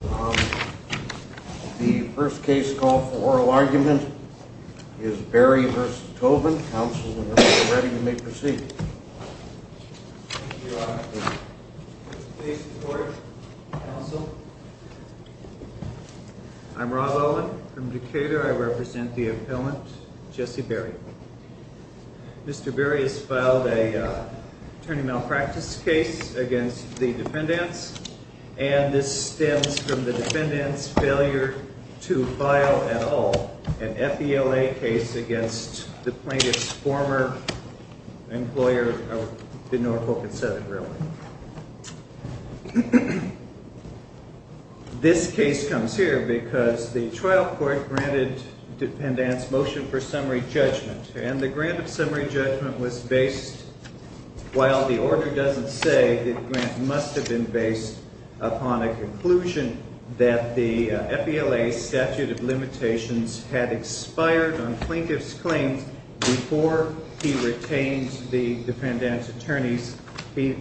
The first case call for oral argument is Berry v. Tobin. Counsel, whenever you're ready, you may proceed. Thank you, Your Honor. Please report, Counsel. I'm Rob Olin from Decatur. I represent the appellant, Jesse Berry. Mr. Berry has filed an attorney malpractice case against the defendants, and this stems from the defendants' failure to file at all an FELA case against the plaintiff's former employer, or didn't know her folk had said it, really. This case comes here because the trial court granted the defendants' motion for summary judgment, and the grant of summary judgment was based, while the order doesn't say, the grant must have been based upon a conclusion that the FELA statute of limitations had expired on plaintiff's claims before he retained the defendants' attorneys. He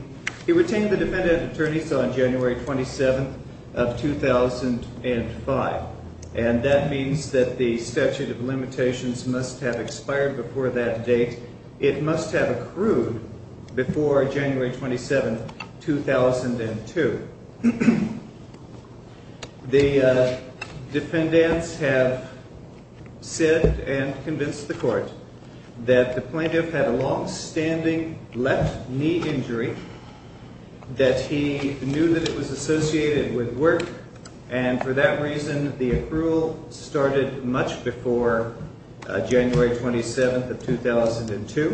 retained the defendants' attorneys on January 27th of 2005, and that means that the statute of limitations must have expired before that date. It must have accrued before January 27th, 2002. The defendants have said and convinced the court that the plaintiff had a longstanding left knee injury, that he knew that it was associated with work, and for that reason the accrual started much before January 27th of 2002.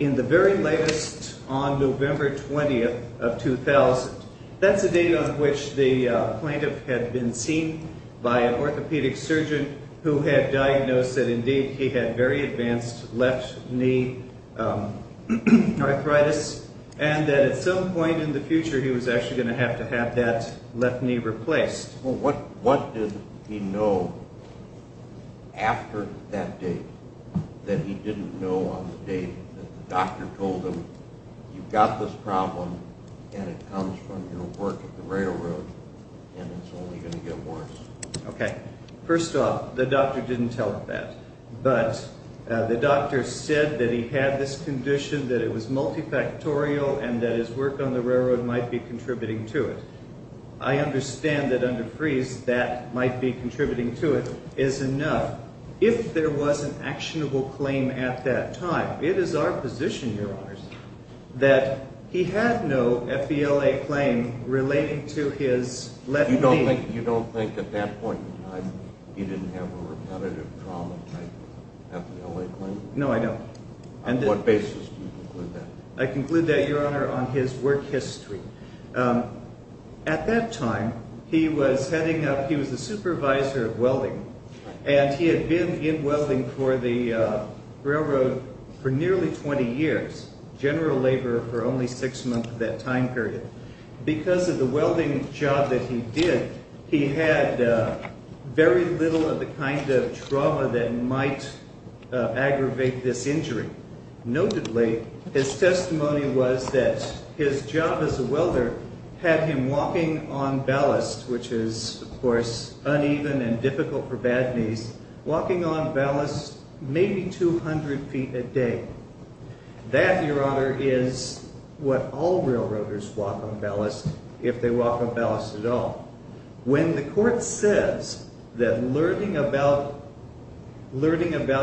In the very latest, on November 20th of 2000, that's the date on which the plaintiff had been seen by an orthopedic surgeon who had diagnosed that indeed he had very advanced left knee arthritis, and that at some point in the future he was actually going to have to have that left knee replaced. Well, what did he know after that date that he didn't know on the date that the doctor told him, you've got this problem, and it comes from your work at the railroad, and it's only going to get worse? Okay. First off, the doctor didn't tell him that, but the doctor said that he had this condition, that it was multifactorial, and that his work on the railroad might be contributing to it. I understand that under freeze that might be contributing to it is enough. If there was an actionable claim at that time, it is our position, Your Honors, that he had no FBLA claim relating to his left knee. You don't think at that point in time he didn't have a repetitive trauma type FBLA claim? No, I don't. On what basis do you conclude that? I conclude that, Your Honor, on his work history. At that time, he was the supervisor of welding, and he had been in welding for the railroad for nearly 20 years, general labor for only six months of that time period. Because of the welding job that he did, he had very little of the kind of trauma that might aggravate this injury. Notably, his testimony was that his job as a welder had him walking on ballast, which is, of course, uneven and difficult for bad knees, walking on ballast maybe 200 feet a day. That, Your Honor, is what all railroaders walk on ballast if they walk on ballast at all. When the court says that learning about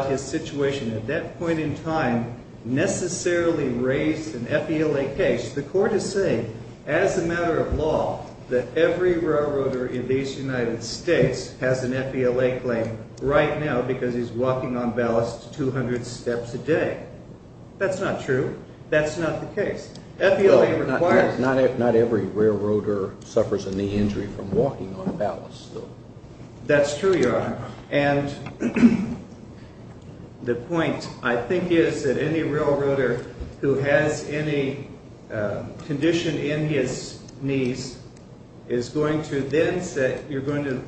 his situation at that point in time necessarily raised an FBLA case, the court is saying, as a matter of law, that every railroader in these United States has an FBLA claim right now because he's walking on ballast 200 steps a day. That's not true. That's not the case. Not every railroader suffers a knee injury from walking on ballast, though. That's true, Your Honor. And the point, I think, is that any railroader who has any condition in his knees is going to then say, you're going to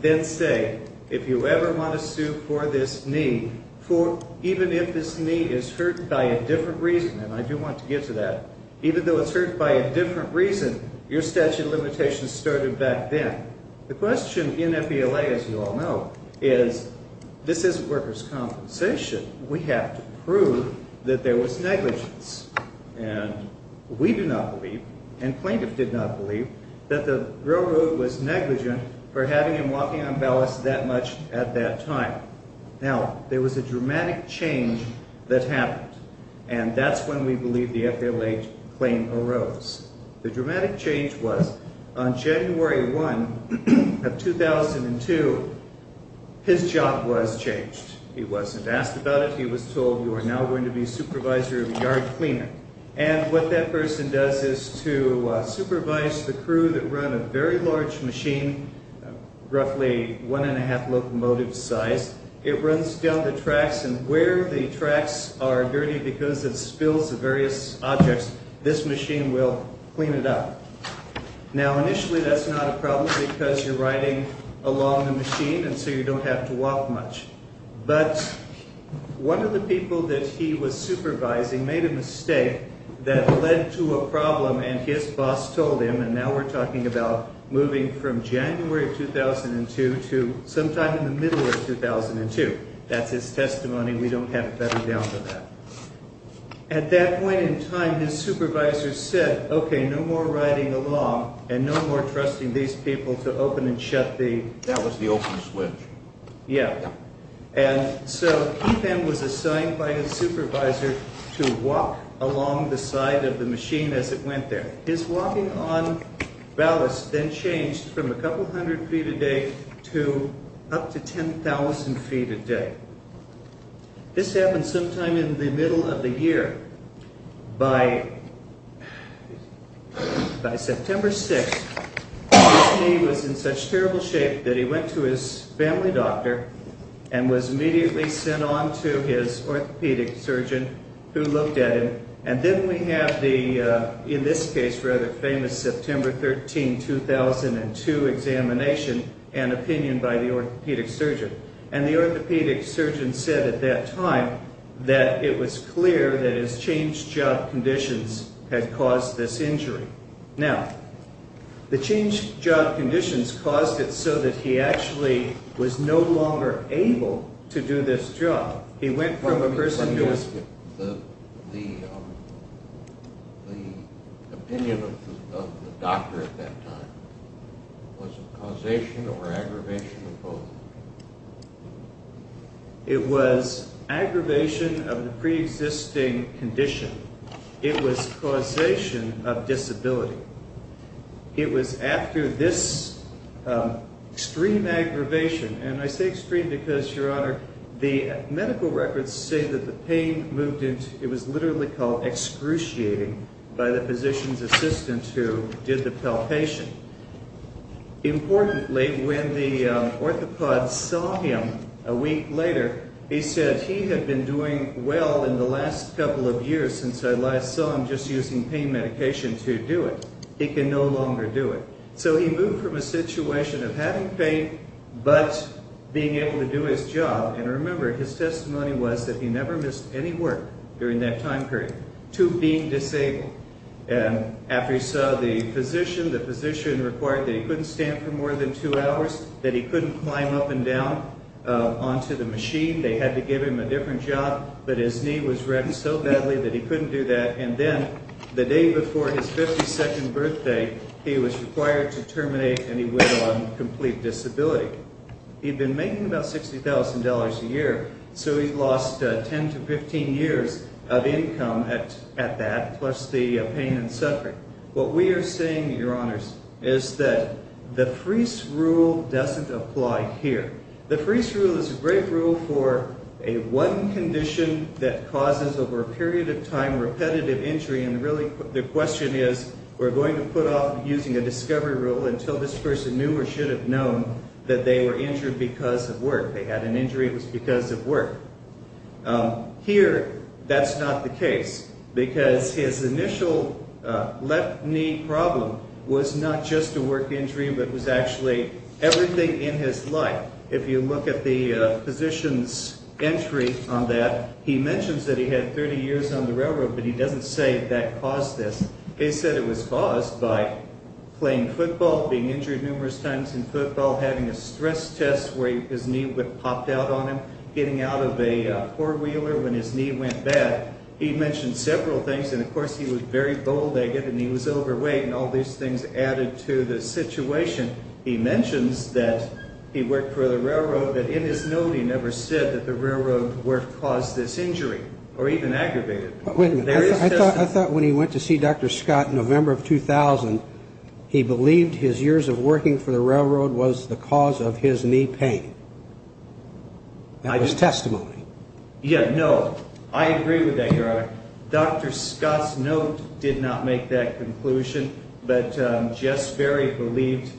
then say, if you ever want to sue for this knee, even if this knee is hurt by a different reason, and I do want to get to that, even though it's hurt by a different reason, your statute of limitations started back then. The question in FBLA, as you all know, is this isn't workers' compensation. We have to prove that there was negligence. And we do not believe, and plaintiff did not believe, that the railroad was negligent for having him walking on ballast that much at that time. Now, there was a dramatic change that happened, and that's when we believe the FBLA claim arose. The dramatic change was on January 1 of 2002, his job was changed. He wasn't asked about it. He was told, you are now going to be supervisor of yard cleaning. And what that person does is to supervise the crew that run a very large machine, roughly one-and-a-half locomotive size. It runs down the tracks, and where the tracks are dirty because it spills the various objects, this machine will clean it up. Now, initially, that's not a problem because you're riding along the machine, and so you don't have to walk much. But one of the people that he was supervising made a mistake that led to a problem, and his boss told him, and now we're talking about moving from January of 2002 to sometime in the middle of 2002. That's his testimony. We don't have it better down for that. At that point in time, his supervisor said, okay, no more riding along and no more trusting these people to open and shut the... That was the open switch. Yeah. And so he then was assigned by his supervisor to walk along the side of the machine as it went there. His walking on ballast then changed from a couple hundred feet a day to up to 10,000 feet a day. This happened sometime in the middle of the year. By September 6th, his knee was in such terrible shape that he went to his family doctor and was immediately sent on to his orthopedic surgeon who looked at him. And then we have the, in this case, rather famous September 13, 2002 examination and opinion by the orthopedic surgeon. And the orthopedic surgeon said at that time that it was clear that his changed job conditions had caused this injury. Now, the changed job conditions caused it so that he actually was no longer able to do this job. He went from a person who was... It was aggravation of the preexisting condition. It was causation of disability. It was after this extreme aggravation, and I say extreme because, Your Honor, the medical records say that the pain moved into, it was literally called excruciating by the physician's assistant who did the palpation. Importantly, when the orthopod saw him a week later, he said he had been doing well in the last couple of years since I last saw him just using pain medication to do it. He can no longer do it. So he moved from a situation of having pain but being able to do his job. And remember, his testimony was that he never missed any work during that time period to being disabled. And after he saw the physician, the physician required that he couldn't stand for more than two hours, that he couldn't climb up and down onto the machine. They had to give him a different job, but his knee was wrecked so badly that he couldn't do that. And then the day before his 52nd birthday, he was required to terminate, and he went on complete disability. He'd been making about $60,000 a year, so he'd lost 10 to 15 years of income at that, plus the pain and suffering. What we are saying, Your Honors, is that the FRIES rule doesn't apply here. The FRIES rule is a great rule for a one condition that causes over a period of time repetitive injury, and really the question is, we're going to put off using a discovery rule until this person knew or should have known that they were injured because of work. They had an injury, it was because of work. Here, that's not the case, because his initial left knee problem was not just a work injury, but was actually everything in his life. If you look at the physician's entry on that, he mentions that he had 30 years on the railroad, but he doesn't say that caused this. He said it was caused by playing football, being injured numerous times in football, having a stress test where his knee popped out on him, getting out of a four-wheeler when his knee went bad. He mentioned several things, and, of course, he was very bald-legged and he was overweight and all these things added to the situation. He mentions that he worked for the railroad, but in his note he never said that the railroad caused this injury or even aggravated it. I thought when he went to see Dr. Scott in November of 2000, he believed his years of working for the railroad was the cause of his knee pain. That was testimony. Yeah, no, I agree with that, Your Honor. Dr. Scott's note did not make that conclusion, but Jess Berry believed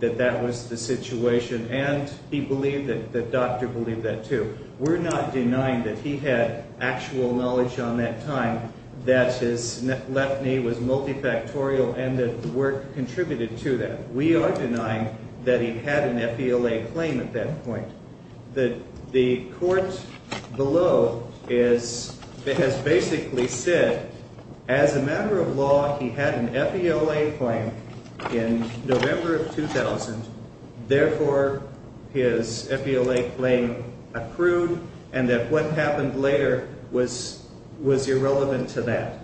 that that was the situation, and he believed that the doctor believed that too. We're not denying that he had actual knowledge on that time, that his left knee was multifactorial and that work contributed to that. We are denying that he had an FELA claim at that point. The court below has basically said, as a matter of law, he had an FELA claim in November of 2000, therefore his FELA claim approved and that what happened later was irrelevant to that.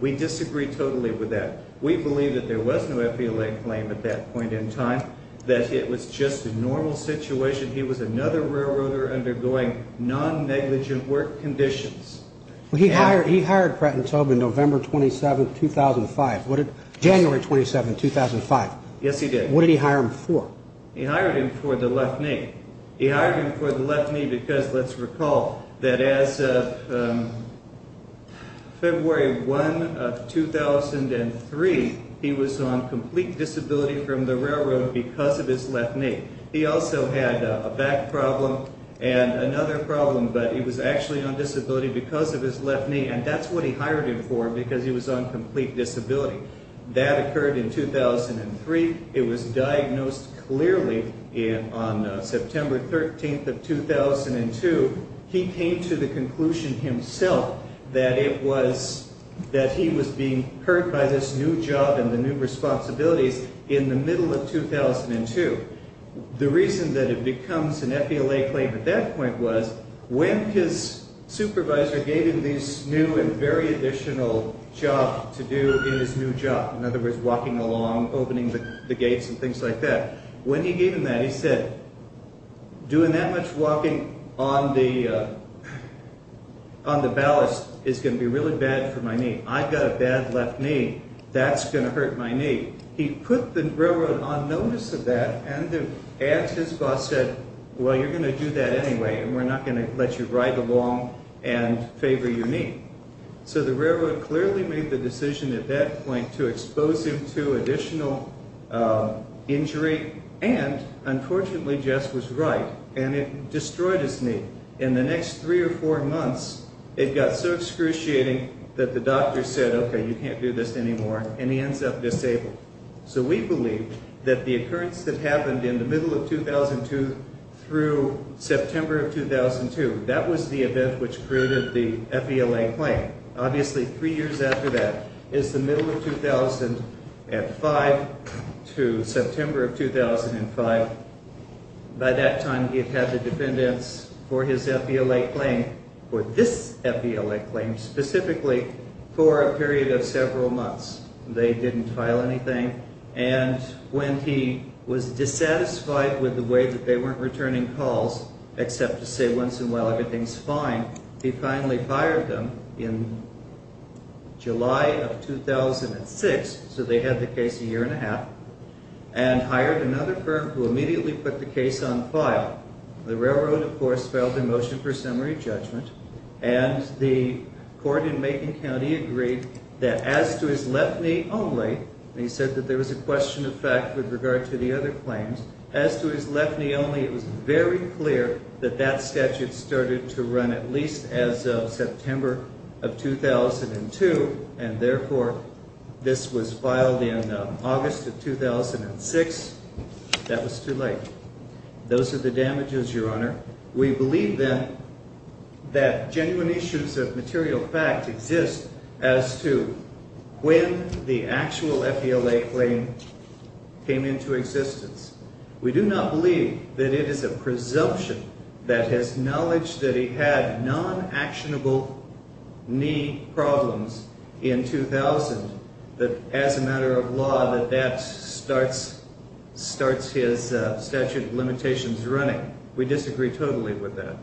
We disagree totally with that. We believe that there was no FELA claim at that point in time, that it was just a normal situation. He was another railroader undergoing non-negligent work conditions. He hired Pratt & Tobin November 27, 2005. January 27, 2005. Yes, he did. What did he hire him for? He hired him for the left knee. He hired him for the left knee because, let's recall, that as of February 1, 2003, he was on complete disability from the railroad because of his left knee. He also had a back problem and another problem, but he was actually on disability because of his left knee, and that's what he hired him for because he was on complete disability. That occurred in 2003. It was diagnosed clearly on September 13, 2002. He came to the conclusion himself that he was being hurt by this new job and the new responsibilities in the middle of 2002. The reason that it becomes an FELA claim at that point was, when his supervisor gave him this new and very additional job to do in his new job, in other words, walking along, opening the gates and things like that, when he gave him that, he said, doing that much walking on the ballast is going to be really bad for my knee. I've got a bad left knee. That's going to hurt my knee. He put the railroad on notice of that and asked his boss, said, well, you're going to do that anyway, and we're not going to let you ride along and favor your knee. So the railroad clearly made the decision at that point to expose him to additional injury and, unfortunately, Jess was right, and it destroyed his knee. In the next three or four months, it got so excruciating that the doctor said, okay, you can't do this anymore, and he ends up disabled. So we believe that the occurrence that happened in the middle of 2002 through September of 2002, that was the event which created the FELA claim. Obviously, three years after that is the middle of 2005 to September of 2005. By that time, he had had the defendants for his FELA claim, for this FELA claim specifically, for a period of several months. They didn't file anything, and when he was dissatisfied with the way that they weren't returning calls except to say once in a while everything's fine, he finally fired them in July of 2006, so they had the case a year and a half, and hired another clerk who immediately put the case on file. The railroad, of course, filed a motion for summary judgment, and the court in Macon County agreed that as to his left knee only, and he said that there was a question of fact with regard to the other claims, as to his left knee only, it was very clear that that statute started to run at least as of September of 2002, and therefore this was filed in August of 2006. That was too late. Those are the damages, Your Honor. We believe, then, that genuine issues of material fact exist as to when the actual FELA claim came into existence. We do not believe that it is a presumption that his knowledge that he had non-actionable knee problems in 2000 that as a matter of law that that starts his statute of limitations running. We disagree totally with that.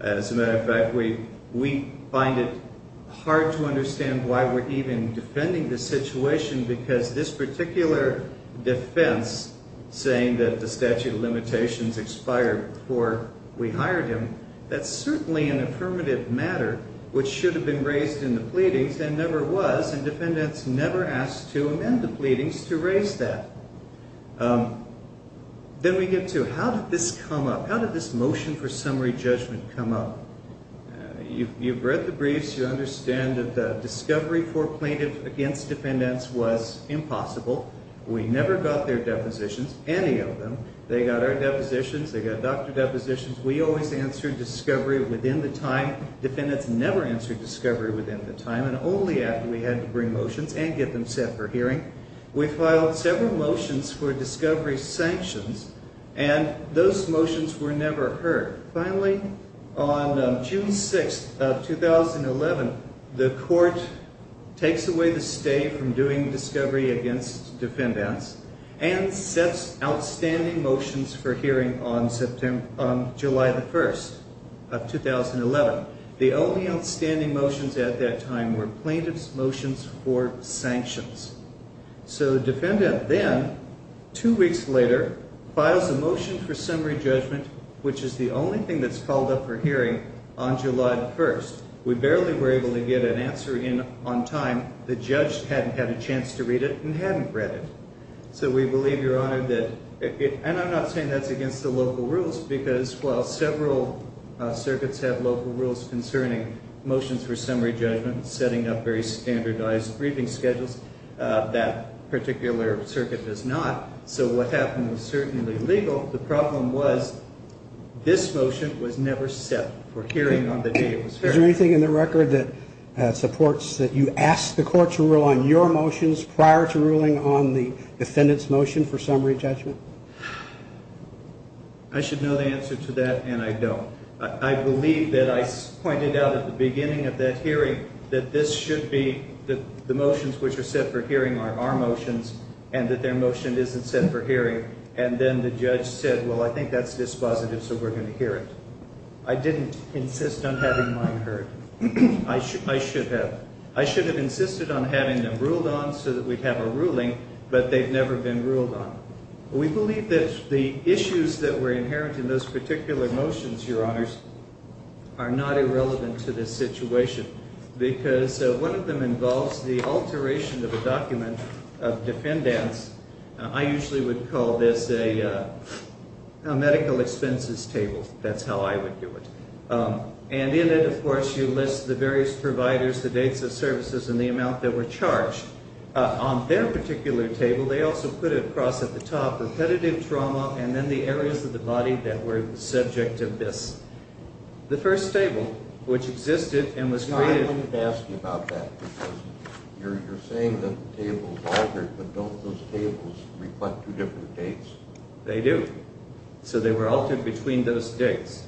As a matter of fact, we find it hard to understand why we're even defending the situation, because this particular defense saying that the statute of limitations expired before we hired him, that's certainly an affirmative matter which should have been raised in the pleadings, and never was, and defendants never asked to amend the pleadings to raise that. Then we get to how did this come up? How did this motion for summary judgment come up? You've read the briefs. You understand that the discovery for plaintiff against defendants was impossible. We never got their depositions, any of them. They got our depositions. They got doctor depositions. We always answered discovery within the time. Defendants never answered discovery within the time, and only after we had to bring motions and get them set for hearing. We filed several motions for discovery sanctions, and those motions were never heard. Finally, on June 6th of 2011, the court takes away the stay from doing discovery against defendants and sets outstanding motions for hearing on July 1st of 2011. The only outstanding motions at that time were plaintiff's motions for sanctions. So the defendant then, two weeks later, files a motion for summary judgment, which is the only thing that's called up for hearing on July 1st. We barely were able to get an answer in on time. The judge hadn't had a chance to read it and hadn't read it. So we believe, Your Honor, that it, and I'm not saying that's against the local rules, because while several circuits have local rules concerning motions for summary judgment, setting up very standardized briefing schedules, that particular circuit does not. So what happened was certainly legal. The problem was this motion was never set for hearing on the day it was heard. Is there anything in the record that supports that you asked the court to rule on your motions prior to ruling on the defendant's motion for summary judgment? I should know the answer to that, and I don't. I believe that I pointed out at the beginning of that hearing that this should be the motions which are set for hearing are our motions and that their motion isn't set for hearing. And then the judge said, well, I think that's dispositive, so we're going to hear it. I didn't insist on having mine heard. I should have. I should have insisted on having them ruled on so that we'd have a ruling, but they've never been ruled on. We believe that the issues that were inherent in those particular motions, Your Honors, are not irrelevant to this situation because one of them involves the alteration of a document of defendants. I usually would call this a medical expenses table. That's how I would do it. And in it, of course, you list the various providers, the dates of services, and the amount that were charged. On their particular table, they also put across at the top repetitive trauma and then the areas of the body that were the subject of this. The first table, which existed and was created. Your Honor, I wanted to ask you about that because you're saying that the tables altered, but don't those tables reflect two different dates? They do. So they were altered between those dates.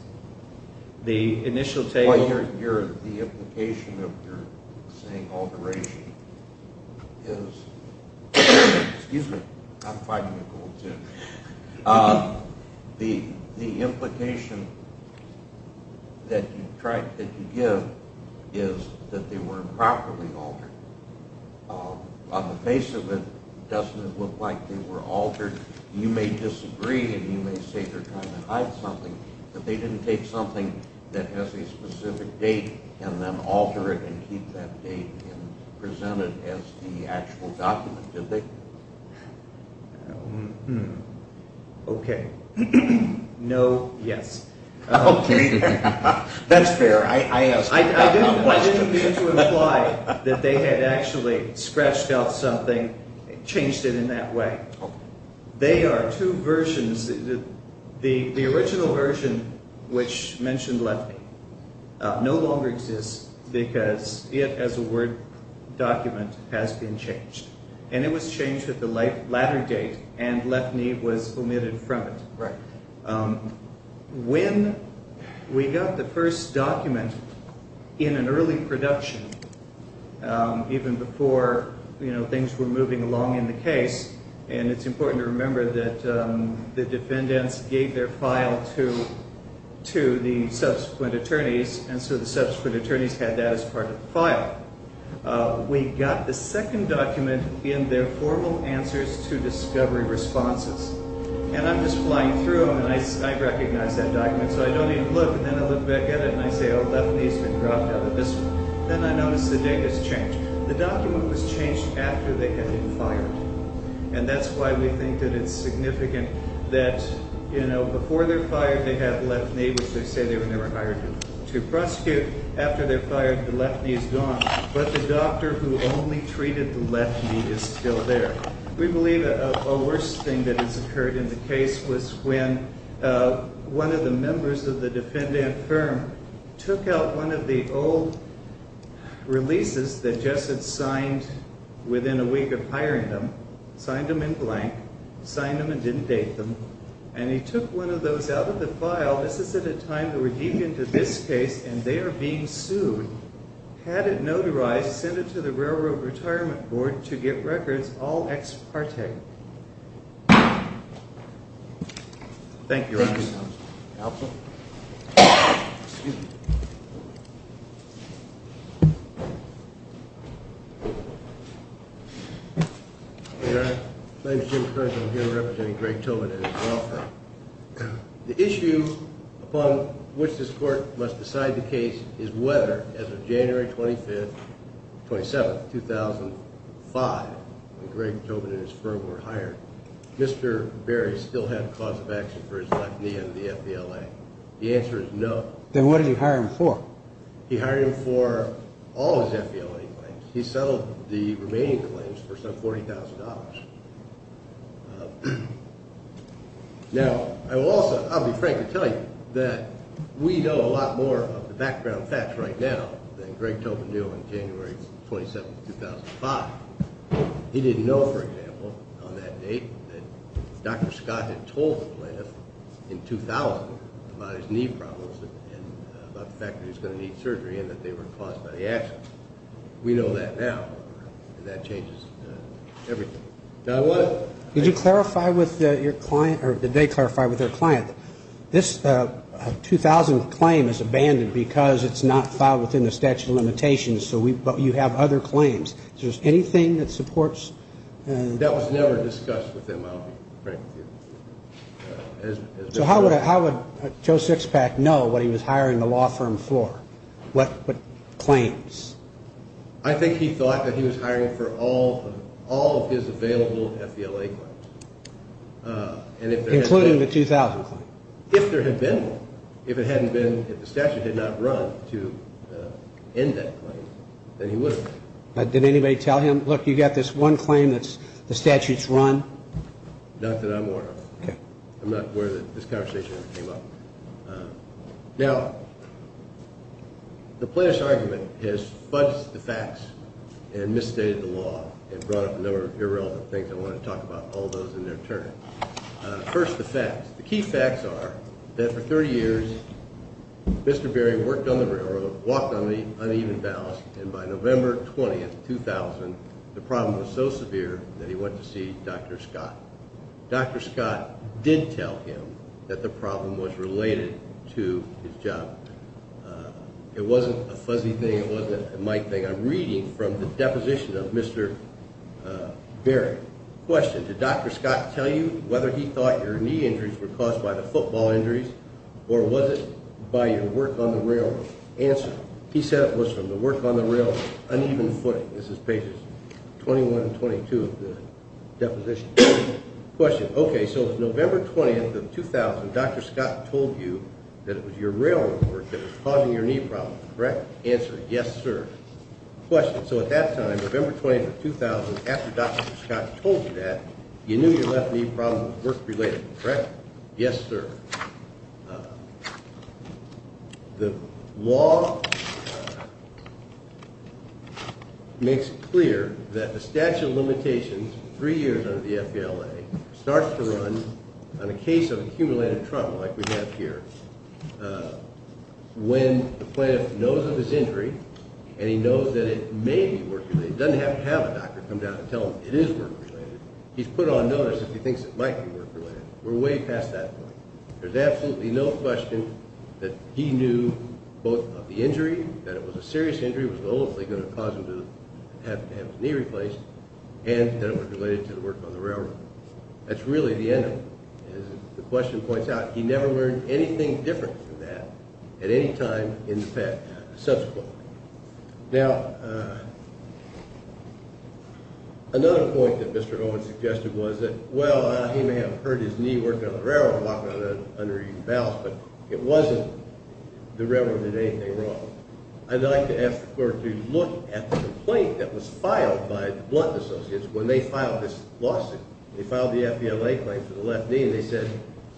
The implication of your saying alteration is that they were improperly altered. On the face of it, doesn't it look like they were altered? You may disagree and you may say they're trying to hide something, but they didn't take something that has a specific date and then alter it and keep that date and present it as the actual document, did they? Okay. No. Yes. Okay. That's fair. I didn't mean to imply that they had actually scratched out something, changed it in that way. They are two versions. The original version, which mentioned left knee, no longer exists because it, as a Word document, has been changed. And it was changed at the latter date and left knee was omitted from it. Right. When we got the first document in an early production, even before things were moving along in the case, and it's important to remember that the defendants gave their file to the subsequent attorneys, and so the subsequent attorneys had that as part of the file. We got the second document in their formal answers to discovery responses. And I'm just flying through them, and I recognize that document, so I don't even look, and then I look back at it and I say, Oh, left knee has been dropped out of this one. Then I notice the date has changed. The document was changed after they had been fired, and that's why we think that it's significant that, you know, before they're fired, they have left knee, which they say they were never hired to prosecute. After they're fired, the left knee is gone. But the doctor who only treated the left knee is still there. We believe a worse thing that has occurred in the case was when one of the members of the defendant firm took out one of the old releases that Jess had signed within a week of hiring them, signed them in blank, signed them and didn't date them, and he took one of those out of the file. This is at a time that we're deep into this case, and they are being sued. Had it notarized, send it to the Railroad Retirement Board to get records all ex parte. Thank you, Your Honor. Thank you, Counsel. Counsel? Excuse me. Your Honor, my name is Jim Curran, and I'm here representing Greg Tobin and his law firm. The issue upon which this Court must decide the case is whether, as of January 25th, 2007, 2005, when Greg Tobin and his firm were hired, Mr. Berry still had cause of action for his left knee under the FBLA. The answer is no. Then what did he hire him for? He hired him for all of his FBLA claims. He settled the remaining claims for some $40,000. Now, I'll be frank and tell you that we know a lot more of the background facts right now than Greg Tobin knew on January 27th, 2005. He didn't know, for example, on that date that Dr. Scott had told the plaintiff in 2000 about his knee problems and about the fact that he was going to need surgery and that they were caused by the accident. We know that now, and that changes everything. Now what? Did you clarify with your client, or did they clarify with their client, this 2000 claim is abandoned because it's not filed within the statute of limitations, but you have other claims. Is there anything that supports? That was never discussed with them, I'll be frank with you. So how would Joe Sixpack know what he was hiring the law firm for, what claims? I think he thought that he was hiring for all of his available FBLA claims. Including the 2000 claim? If there had been one, if the statute had not run to end that claim, then he would have. Did anybody tell him, look, you've got this one claim that the statute's run? Not that I'm aware of. Okay. I'm not aware that this conversation came up. Now, the plaintiff's argument has fudged the facts and misstated the law and brought up a number of irrelevant things. I want to talk about all those in their turn. First, the facts. The key facts are that for 30 years, Mr. Berry worked on the railroad, walked on the uneven ballast, and by November 20, 2000, the problem was so severe that he went to see Dr. Scott. Dr. Scott did tell him that the problem was related to his job. It wasn't a fuzzy thing. It wasn't a mic thing. I'm reading from the deposition of Mr. Berry. Question. Did Dr. Scott tell you whether he thought your knee injuries were caused by the football injuries or was it by your work on the railroad? Answer. He said it was from the work on the railroad, uneven footing. This is pages 21 and 22 of the deposition. Question. Okay, so it was November 20, 2000. Dr. Scott told you that it was your railroad work that was causing your knee problems, correct? Answer. Yes, sir. Question. So at that time, November 20, 2000, after Dr. Scott told you that, you knew your left knee problem was work-related, correct? Yes, sir. The law makes it clear that the statute of limitations, three years under the FBLA, starts to run on a case of accumulated trauma like we have here. When the plaintiff knows of his injury and he knows that it may be work-related, he doesn't have to have a doctor come down and tell him it is work-related. He's put on notice if he thinks it might be work-related. We're way past that point. There's absolutely no question that he knew both of the injury, that it was a serious injury that was ultimately going to cause him to have his knee replaced, and that it was related to the work on the railroad. That's really the end of it. The question points out he never learned anything different from that at any time in the past, subsequently. Now, another point that Mr. Owen suggested was that, well, he may have hurt his knee working on the railroad and walking on an uneven balance, but it wasn't the railroad that did anything wrong. I'd like to ask the court to look at the complaint that was filed by the Blunt Associates when they filed this lawsuit. They filed the FBLA claim for the left knee, and they said,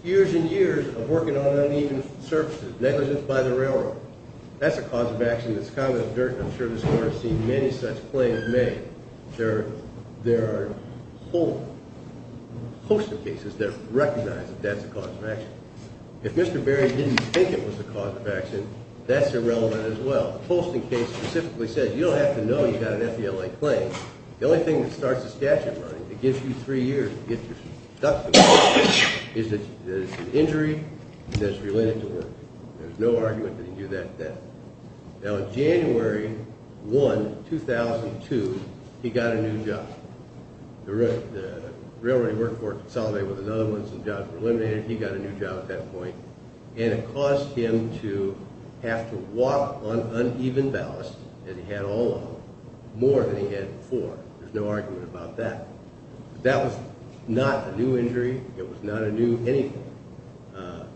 years and years of working on uneven surfaces, negligence by the railroad. That's a cause of action that's kind of in the dirt, and I'm sure this court has seen many such claims made. There are a whole host of cases that recognize that that's a cause of action. If Mr. Berry didn't think it was a cause of action, that's irrelevant as well. The Poston case specifically says you don't have to know you've got an FBLA claim. The only thing that starts the statute running that gives you three years to get your stuff together is that it's an injury that's related to work. There's no argument that he knew that then. Now, January 1, 2002, he got a new job. The railroad he worked for consolidated with another one. Some jobs were eliminated. He got a new job at that point, and it caused him to have to walk on uneven balance, as he had all along, more than he had before. There's no argument about that. That was not a new injury. It was not a new anything.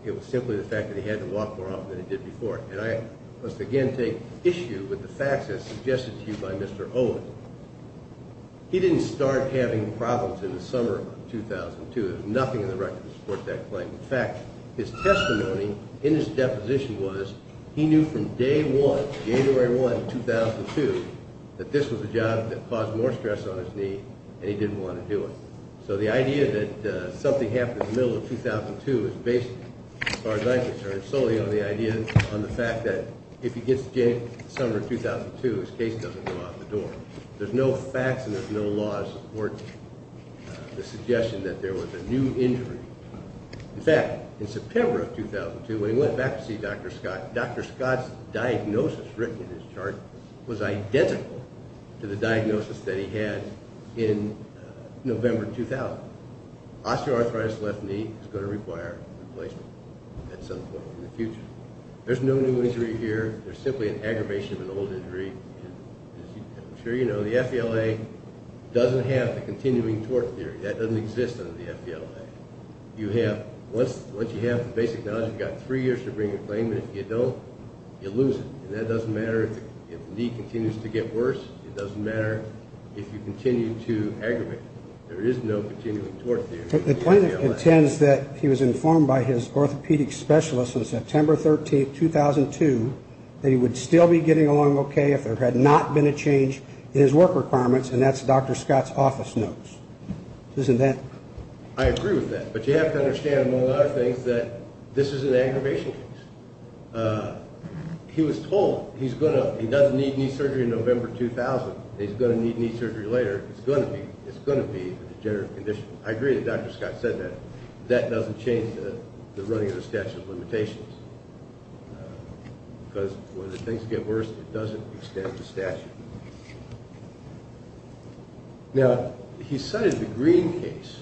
It was simply the fact that he had to walk more often than he did before. And I must again take issue with the facts as suggested to you by Mr. Owen. He didn't start having problems in the summer of 2002. There's nothing in the record to support that claim. In fact, his testimony in his deposition was he knew from day one, January 1, 2002, that this was a job that caused more stress on his knee, and he didn't want to do it. So the idea that something happened in the middle of 2002 is based, as far as I'm concerned, solely on the idea on the fact that if he gets sick in the summer of 2002, his case doesn't come out the door. There's no facts and there's no laws to support the suggestion that there was a new injury. In fact, in September of 2002, when he went back to see Dr. Scott, Dr. Scott's diagnosis written in his chart was identical to the diagnosis that he had in November 2000. Osteoarthritis left knee is going to require replacement at some point in the future. There's no new injury here. There's simply an aggravation of an old injury. And as I'm sure you know, the FVLA doesn't have the continuing tort theory. That doesn't exist under the FVLA. Once you have the basic knowledge, you've got three years to bring a claim, and if you don't, you lose it. And that doesn't matter if the knee continues to get worse. It doesn't matter if you continue to aggravate. There is no continuing tort theory in the FVLA. The plaintiff intends that he was informed by his orthopedic specialist on September 13, 2002, that he would still be getting along okay if there had not been a change in his work requirements, and that's Dr. Scott's office notes. Isn't that? I agree with that. But you have to understand, among other things, that this is an aggravation case. He was told he doesn't need knee surgery in November 2000. He's going to need knee surgery later. It's going to be a degenerative condition. I agree that Dr. Scott said that. That doesn't change the running of the statute of limitations, because when things get worse, it doesn't extend the statute. Now, he cited the Greene case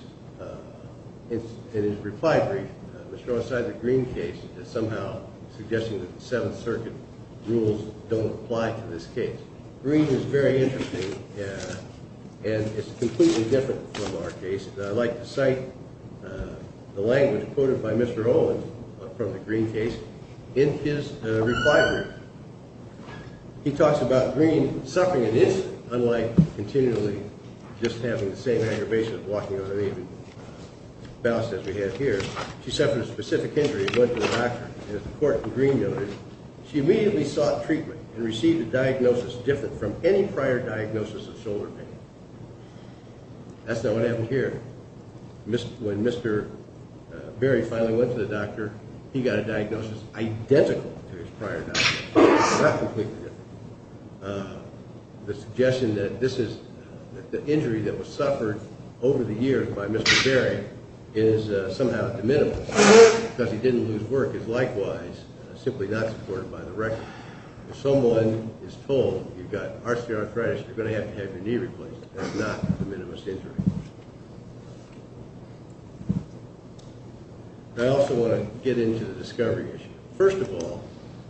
in his reply brief. Mr. Owens cited the Greene case as somehow suggesting that the Seventh Circuit rules don't apply to this case. Greene is very interesting, and it's completely different from our case, and I'd like to cite the language quoted by Mr. Owens from the Greene case in his reply brief. He talks about Greene suffering an incident, unlike continually just having the same aggravation of walking on a knee, as we have here. She suffered a specific injury and went to the doctor. As the court in Greene noted, she immediately sought treatment and received a diagnosis different from any prior diagnosis of shoulder pain. That's not what happened here. When Mr. Berry finally went to the doctor, he got a diagnosis identical to his prior diagnosis, not completely different. The suggestion that the injury that was suffered over the years by Mr. Berry is somehow de minimis, because he didn't lose work, is likewise simply not supported by the record. If someone is told you've got arthritis, you're going to have to have your knee replaced. That's not de minimis injury. I also want to get into the discovery issue. First of all,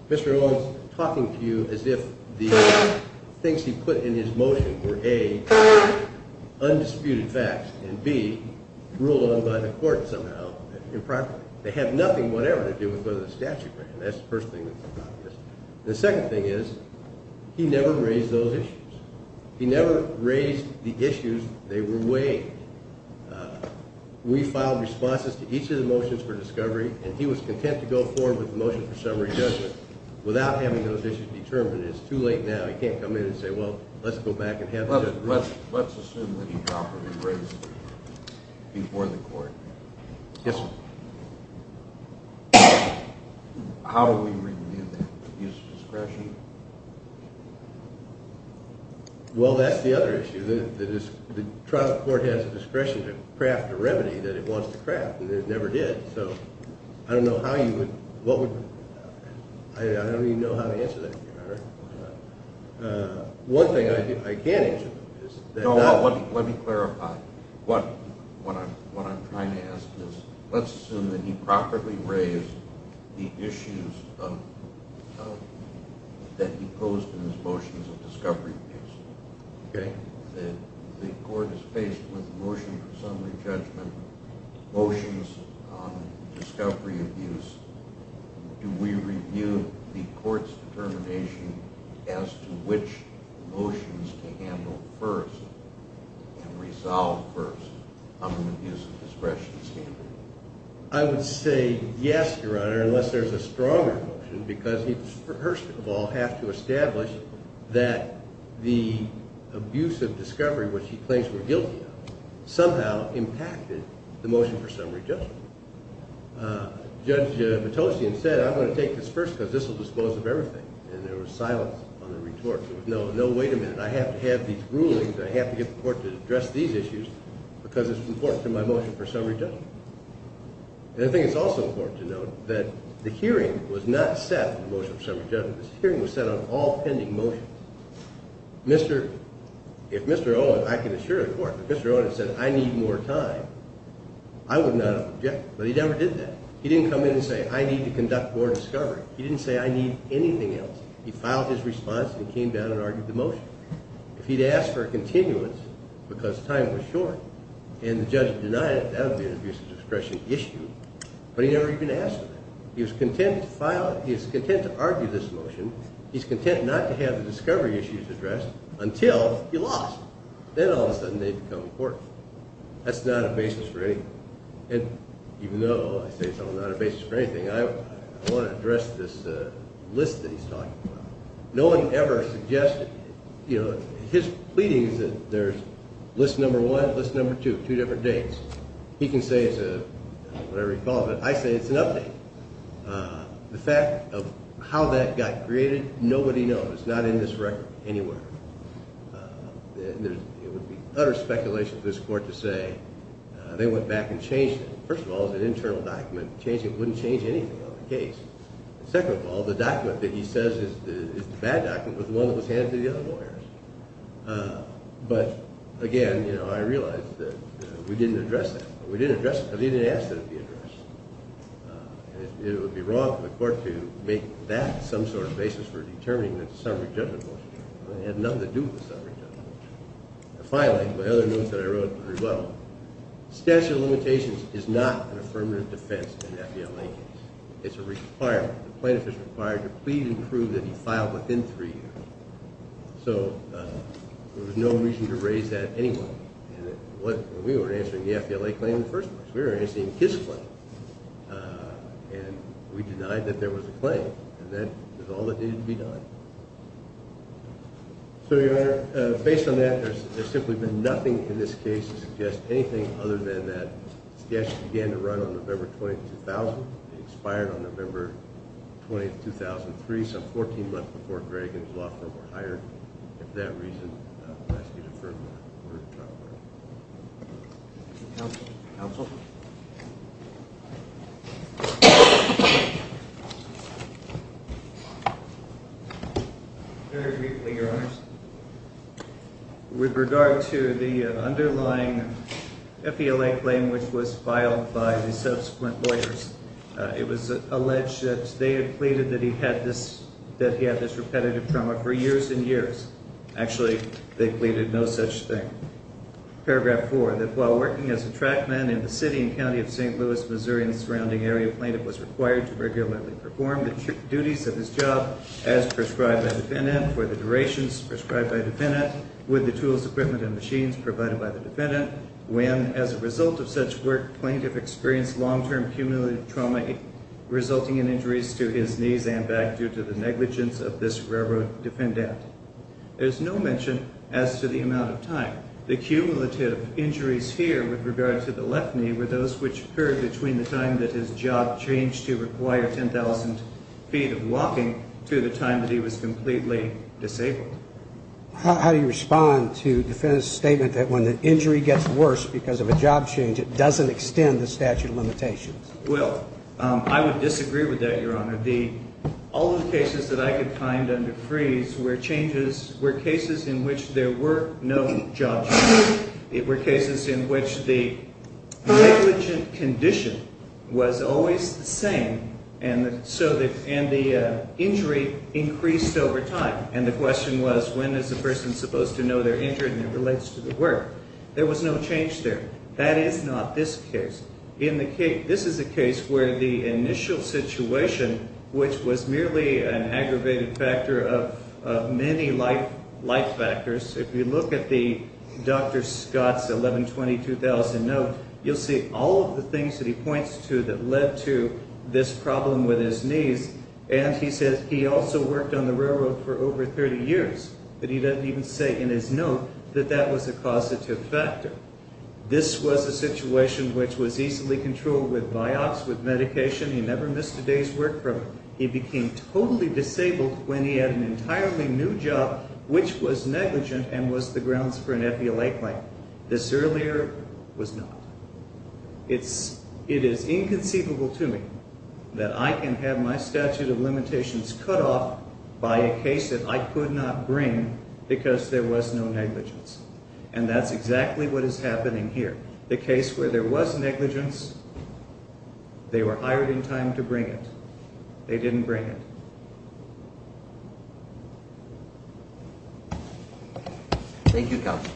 Mr. Owens is talking to you as if the things he put in his motion were, A, undisputed facts, and, B, ruled on by the court somehow improperly. They have nothing whatever to do with whether the statute ran. That's the first thing that's obvious. The second thing is he never raised those issues. He never raised the issues. They were weighed. We filed responses to each of the motions for discovery, and he was content to go forward with the motion for summary judgment without having those issues determined. It's too late now. He can't come in and say, well, let's go back and have the judgment. Yes, sir. How do we review that? Use discretion? Well, that's the other issue. The trial court has the discretion to craft a remedy that it wants to craft, and it never did. So I don't know how you would – I don't even know how to answer that here. One thing I can answer is that not – No, let me clarify what I'm trying to ask. Let's assume that he properly raised the issues that he posed in his motions of discovery abuse. The court is faced with a motion for summary judgment, motions on discovery abuse. Do we review the court's determination as to which motions to handle first and resolve first on the abuse of discretion standard? I would say yes, Your Honor, unless there's a stronger motion, because he would, first of all, have to establish that the abuse of discovery, which he claims we're guilty of, somehow impacted the motion for summary judgment. Judge Patosian said, I'm going to take this first because this will dispose of everything, and there was silence on the retort. There was no, no, wait a minute, I have to have these rulings, I have to get the court to address these issues because it's important to my motion for summary judgment. And I think it's also important to note that the hearing was not set for the motion for summary judgment. This hearing was set on all pending motions. Mr. – if Mr. Owen, I can assure the court, if Mr. Owen had said, I need more time, I would not have objected, but he never did that. He didn't come in and say, I need to conduct more discovery. He didn't say, I need anything else. He filed his response and he came down and argued the motion. If he'd asked for a continuance because time was short and the judge denied it, that would be an abuse of discretion issue, but he never even asked for that. He was content to file it, he was content to argue this motion, he's content not to have the discovery issues addressed until he lost. Then all of a sudden they become important. That's not a basis for anything. And even though I say it's not a basis for anything, I want to address this list that he's talking about. No one ever suggested – his pleading is that there's list number one, list number two, two different dates. He can say it's a – whatever he calls it. I say it's an update. The fact of how that got created, nobody knows. It's not in this record anywhere. It would be utter speculation for this court to say they went back and changed it. First of all, it's an internal document. It wouldn't change anything on the case. Second of all, the document that he says is the bad document was the one that was handed to the other lawyers. But, again, you know, I realize that we didn't address that. We didn't address it because he didn't ask that it be addressed. It would be wrong for the court to make that some sort of basis for determining the summary judgment motion. It had nothing to do with the summary judgment motion. Statutory limitations is not an affirmative defense in an FBLA case. It's a requirement. The plaintiff is required to plead and prove that he filed within three years. So there was no reason to raise that anyway. We weren't answering the FBLA claim in the first place. We were answering his claim. And we denied that there was a claim, and that was all that needed to be done. So, Your Honor, based on that, there's simply been nothing in this case to suggest anything other than that the statute began to run on November 20th, 2000. It expired on November 20th, 2003, so 14 months before Greg and his law firm were hired. And for that reason, it must be deferred. Counsel? Very briefly, Your Honors. With regard to the underlying FBLA claim, which was filed by the subsequent lawyers, it was alleged that they had pleaded that he had this repetitive trauma for years and years. Actually, they pleaded no such thing. Paragraph 4, that while working as a track man in the city and county of St. Louis, Missouri, plaintiff was required to regularly perform the duties of his job as prescribed by defendant for the durations prescribed by defendant with the tools, equipment, and machines provided by the defendant, when, as a result of such work, plaintiff experienced long-term cumulative trauma resulting in injuries to his knees and back due to the negligence of this railroad defendant. There's no mention as to the amount of time. The cumulative injuries here, with regard to the left knee, were those which occurred between the time that his job changed to require 10,000 feet of walking to the time that he was completely disabled. How do you respond to the defendant's statement that when the injury gets worse because of a job change, it doesn't extend the statute of limitations? Well, I would disagree with that, Your Honor. All of the cases that I could find under freeze were cases in which there were no job changes. They were cases in which the negligent condition was always the same, and the injury increased over time. And the question was, when is the person supposed to know they're injured, and it relates to the work. There was no change there. That is not this case. This is a case where the initial situation, which was merely an aggravated factor of many life factors, if you look at Dr. Scott's 1120-2000 note, you'll see all of the things that he points to that led to this problem with his knees. And he says he also worked on the railroad for over 30 years, but he doesn't even say in his note that that was a causative factor. This was a situation which was easily controlled with Vioxx, with medication. He never missed a day's work. He became totally disabled when he had an entirely new job, which was negligent and was the grounds for an epilate claim. This earlier was not. It is inconceivable to me that I can have my statute of limitations cut off by a case that I could not bring because there was no negligence. And that's exactly what is happening here. The case where there was negligence, they were hired in time to bring it. They didn't bring it. Thank you, counsel.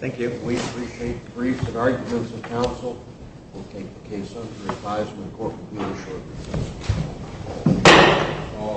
Thank you. We appreciate briefs and arguments of counsel. We'll take the case under re-advisement. The court will be reassured.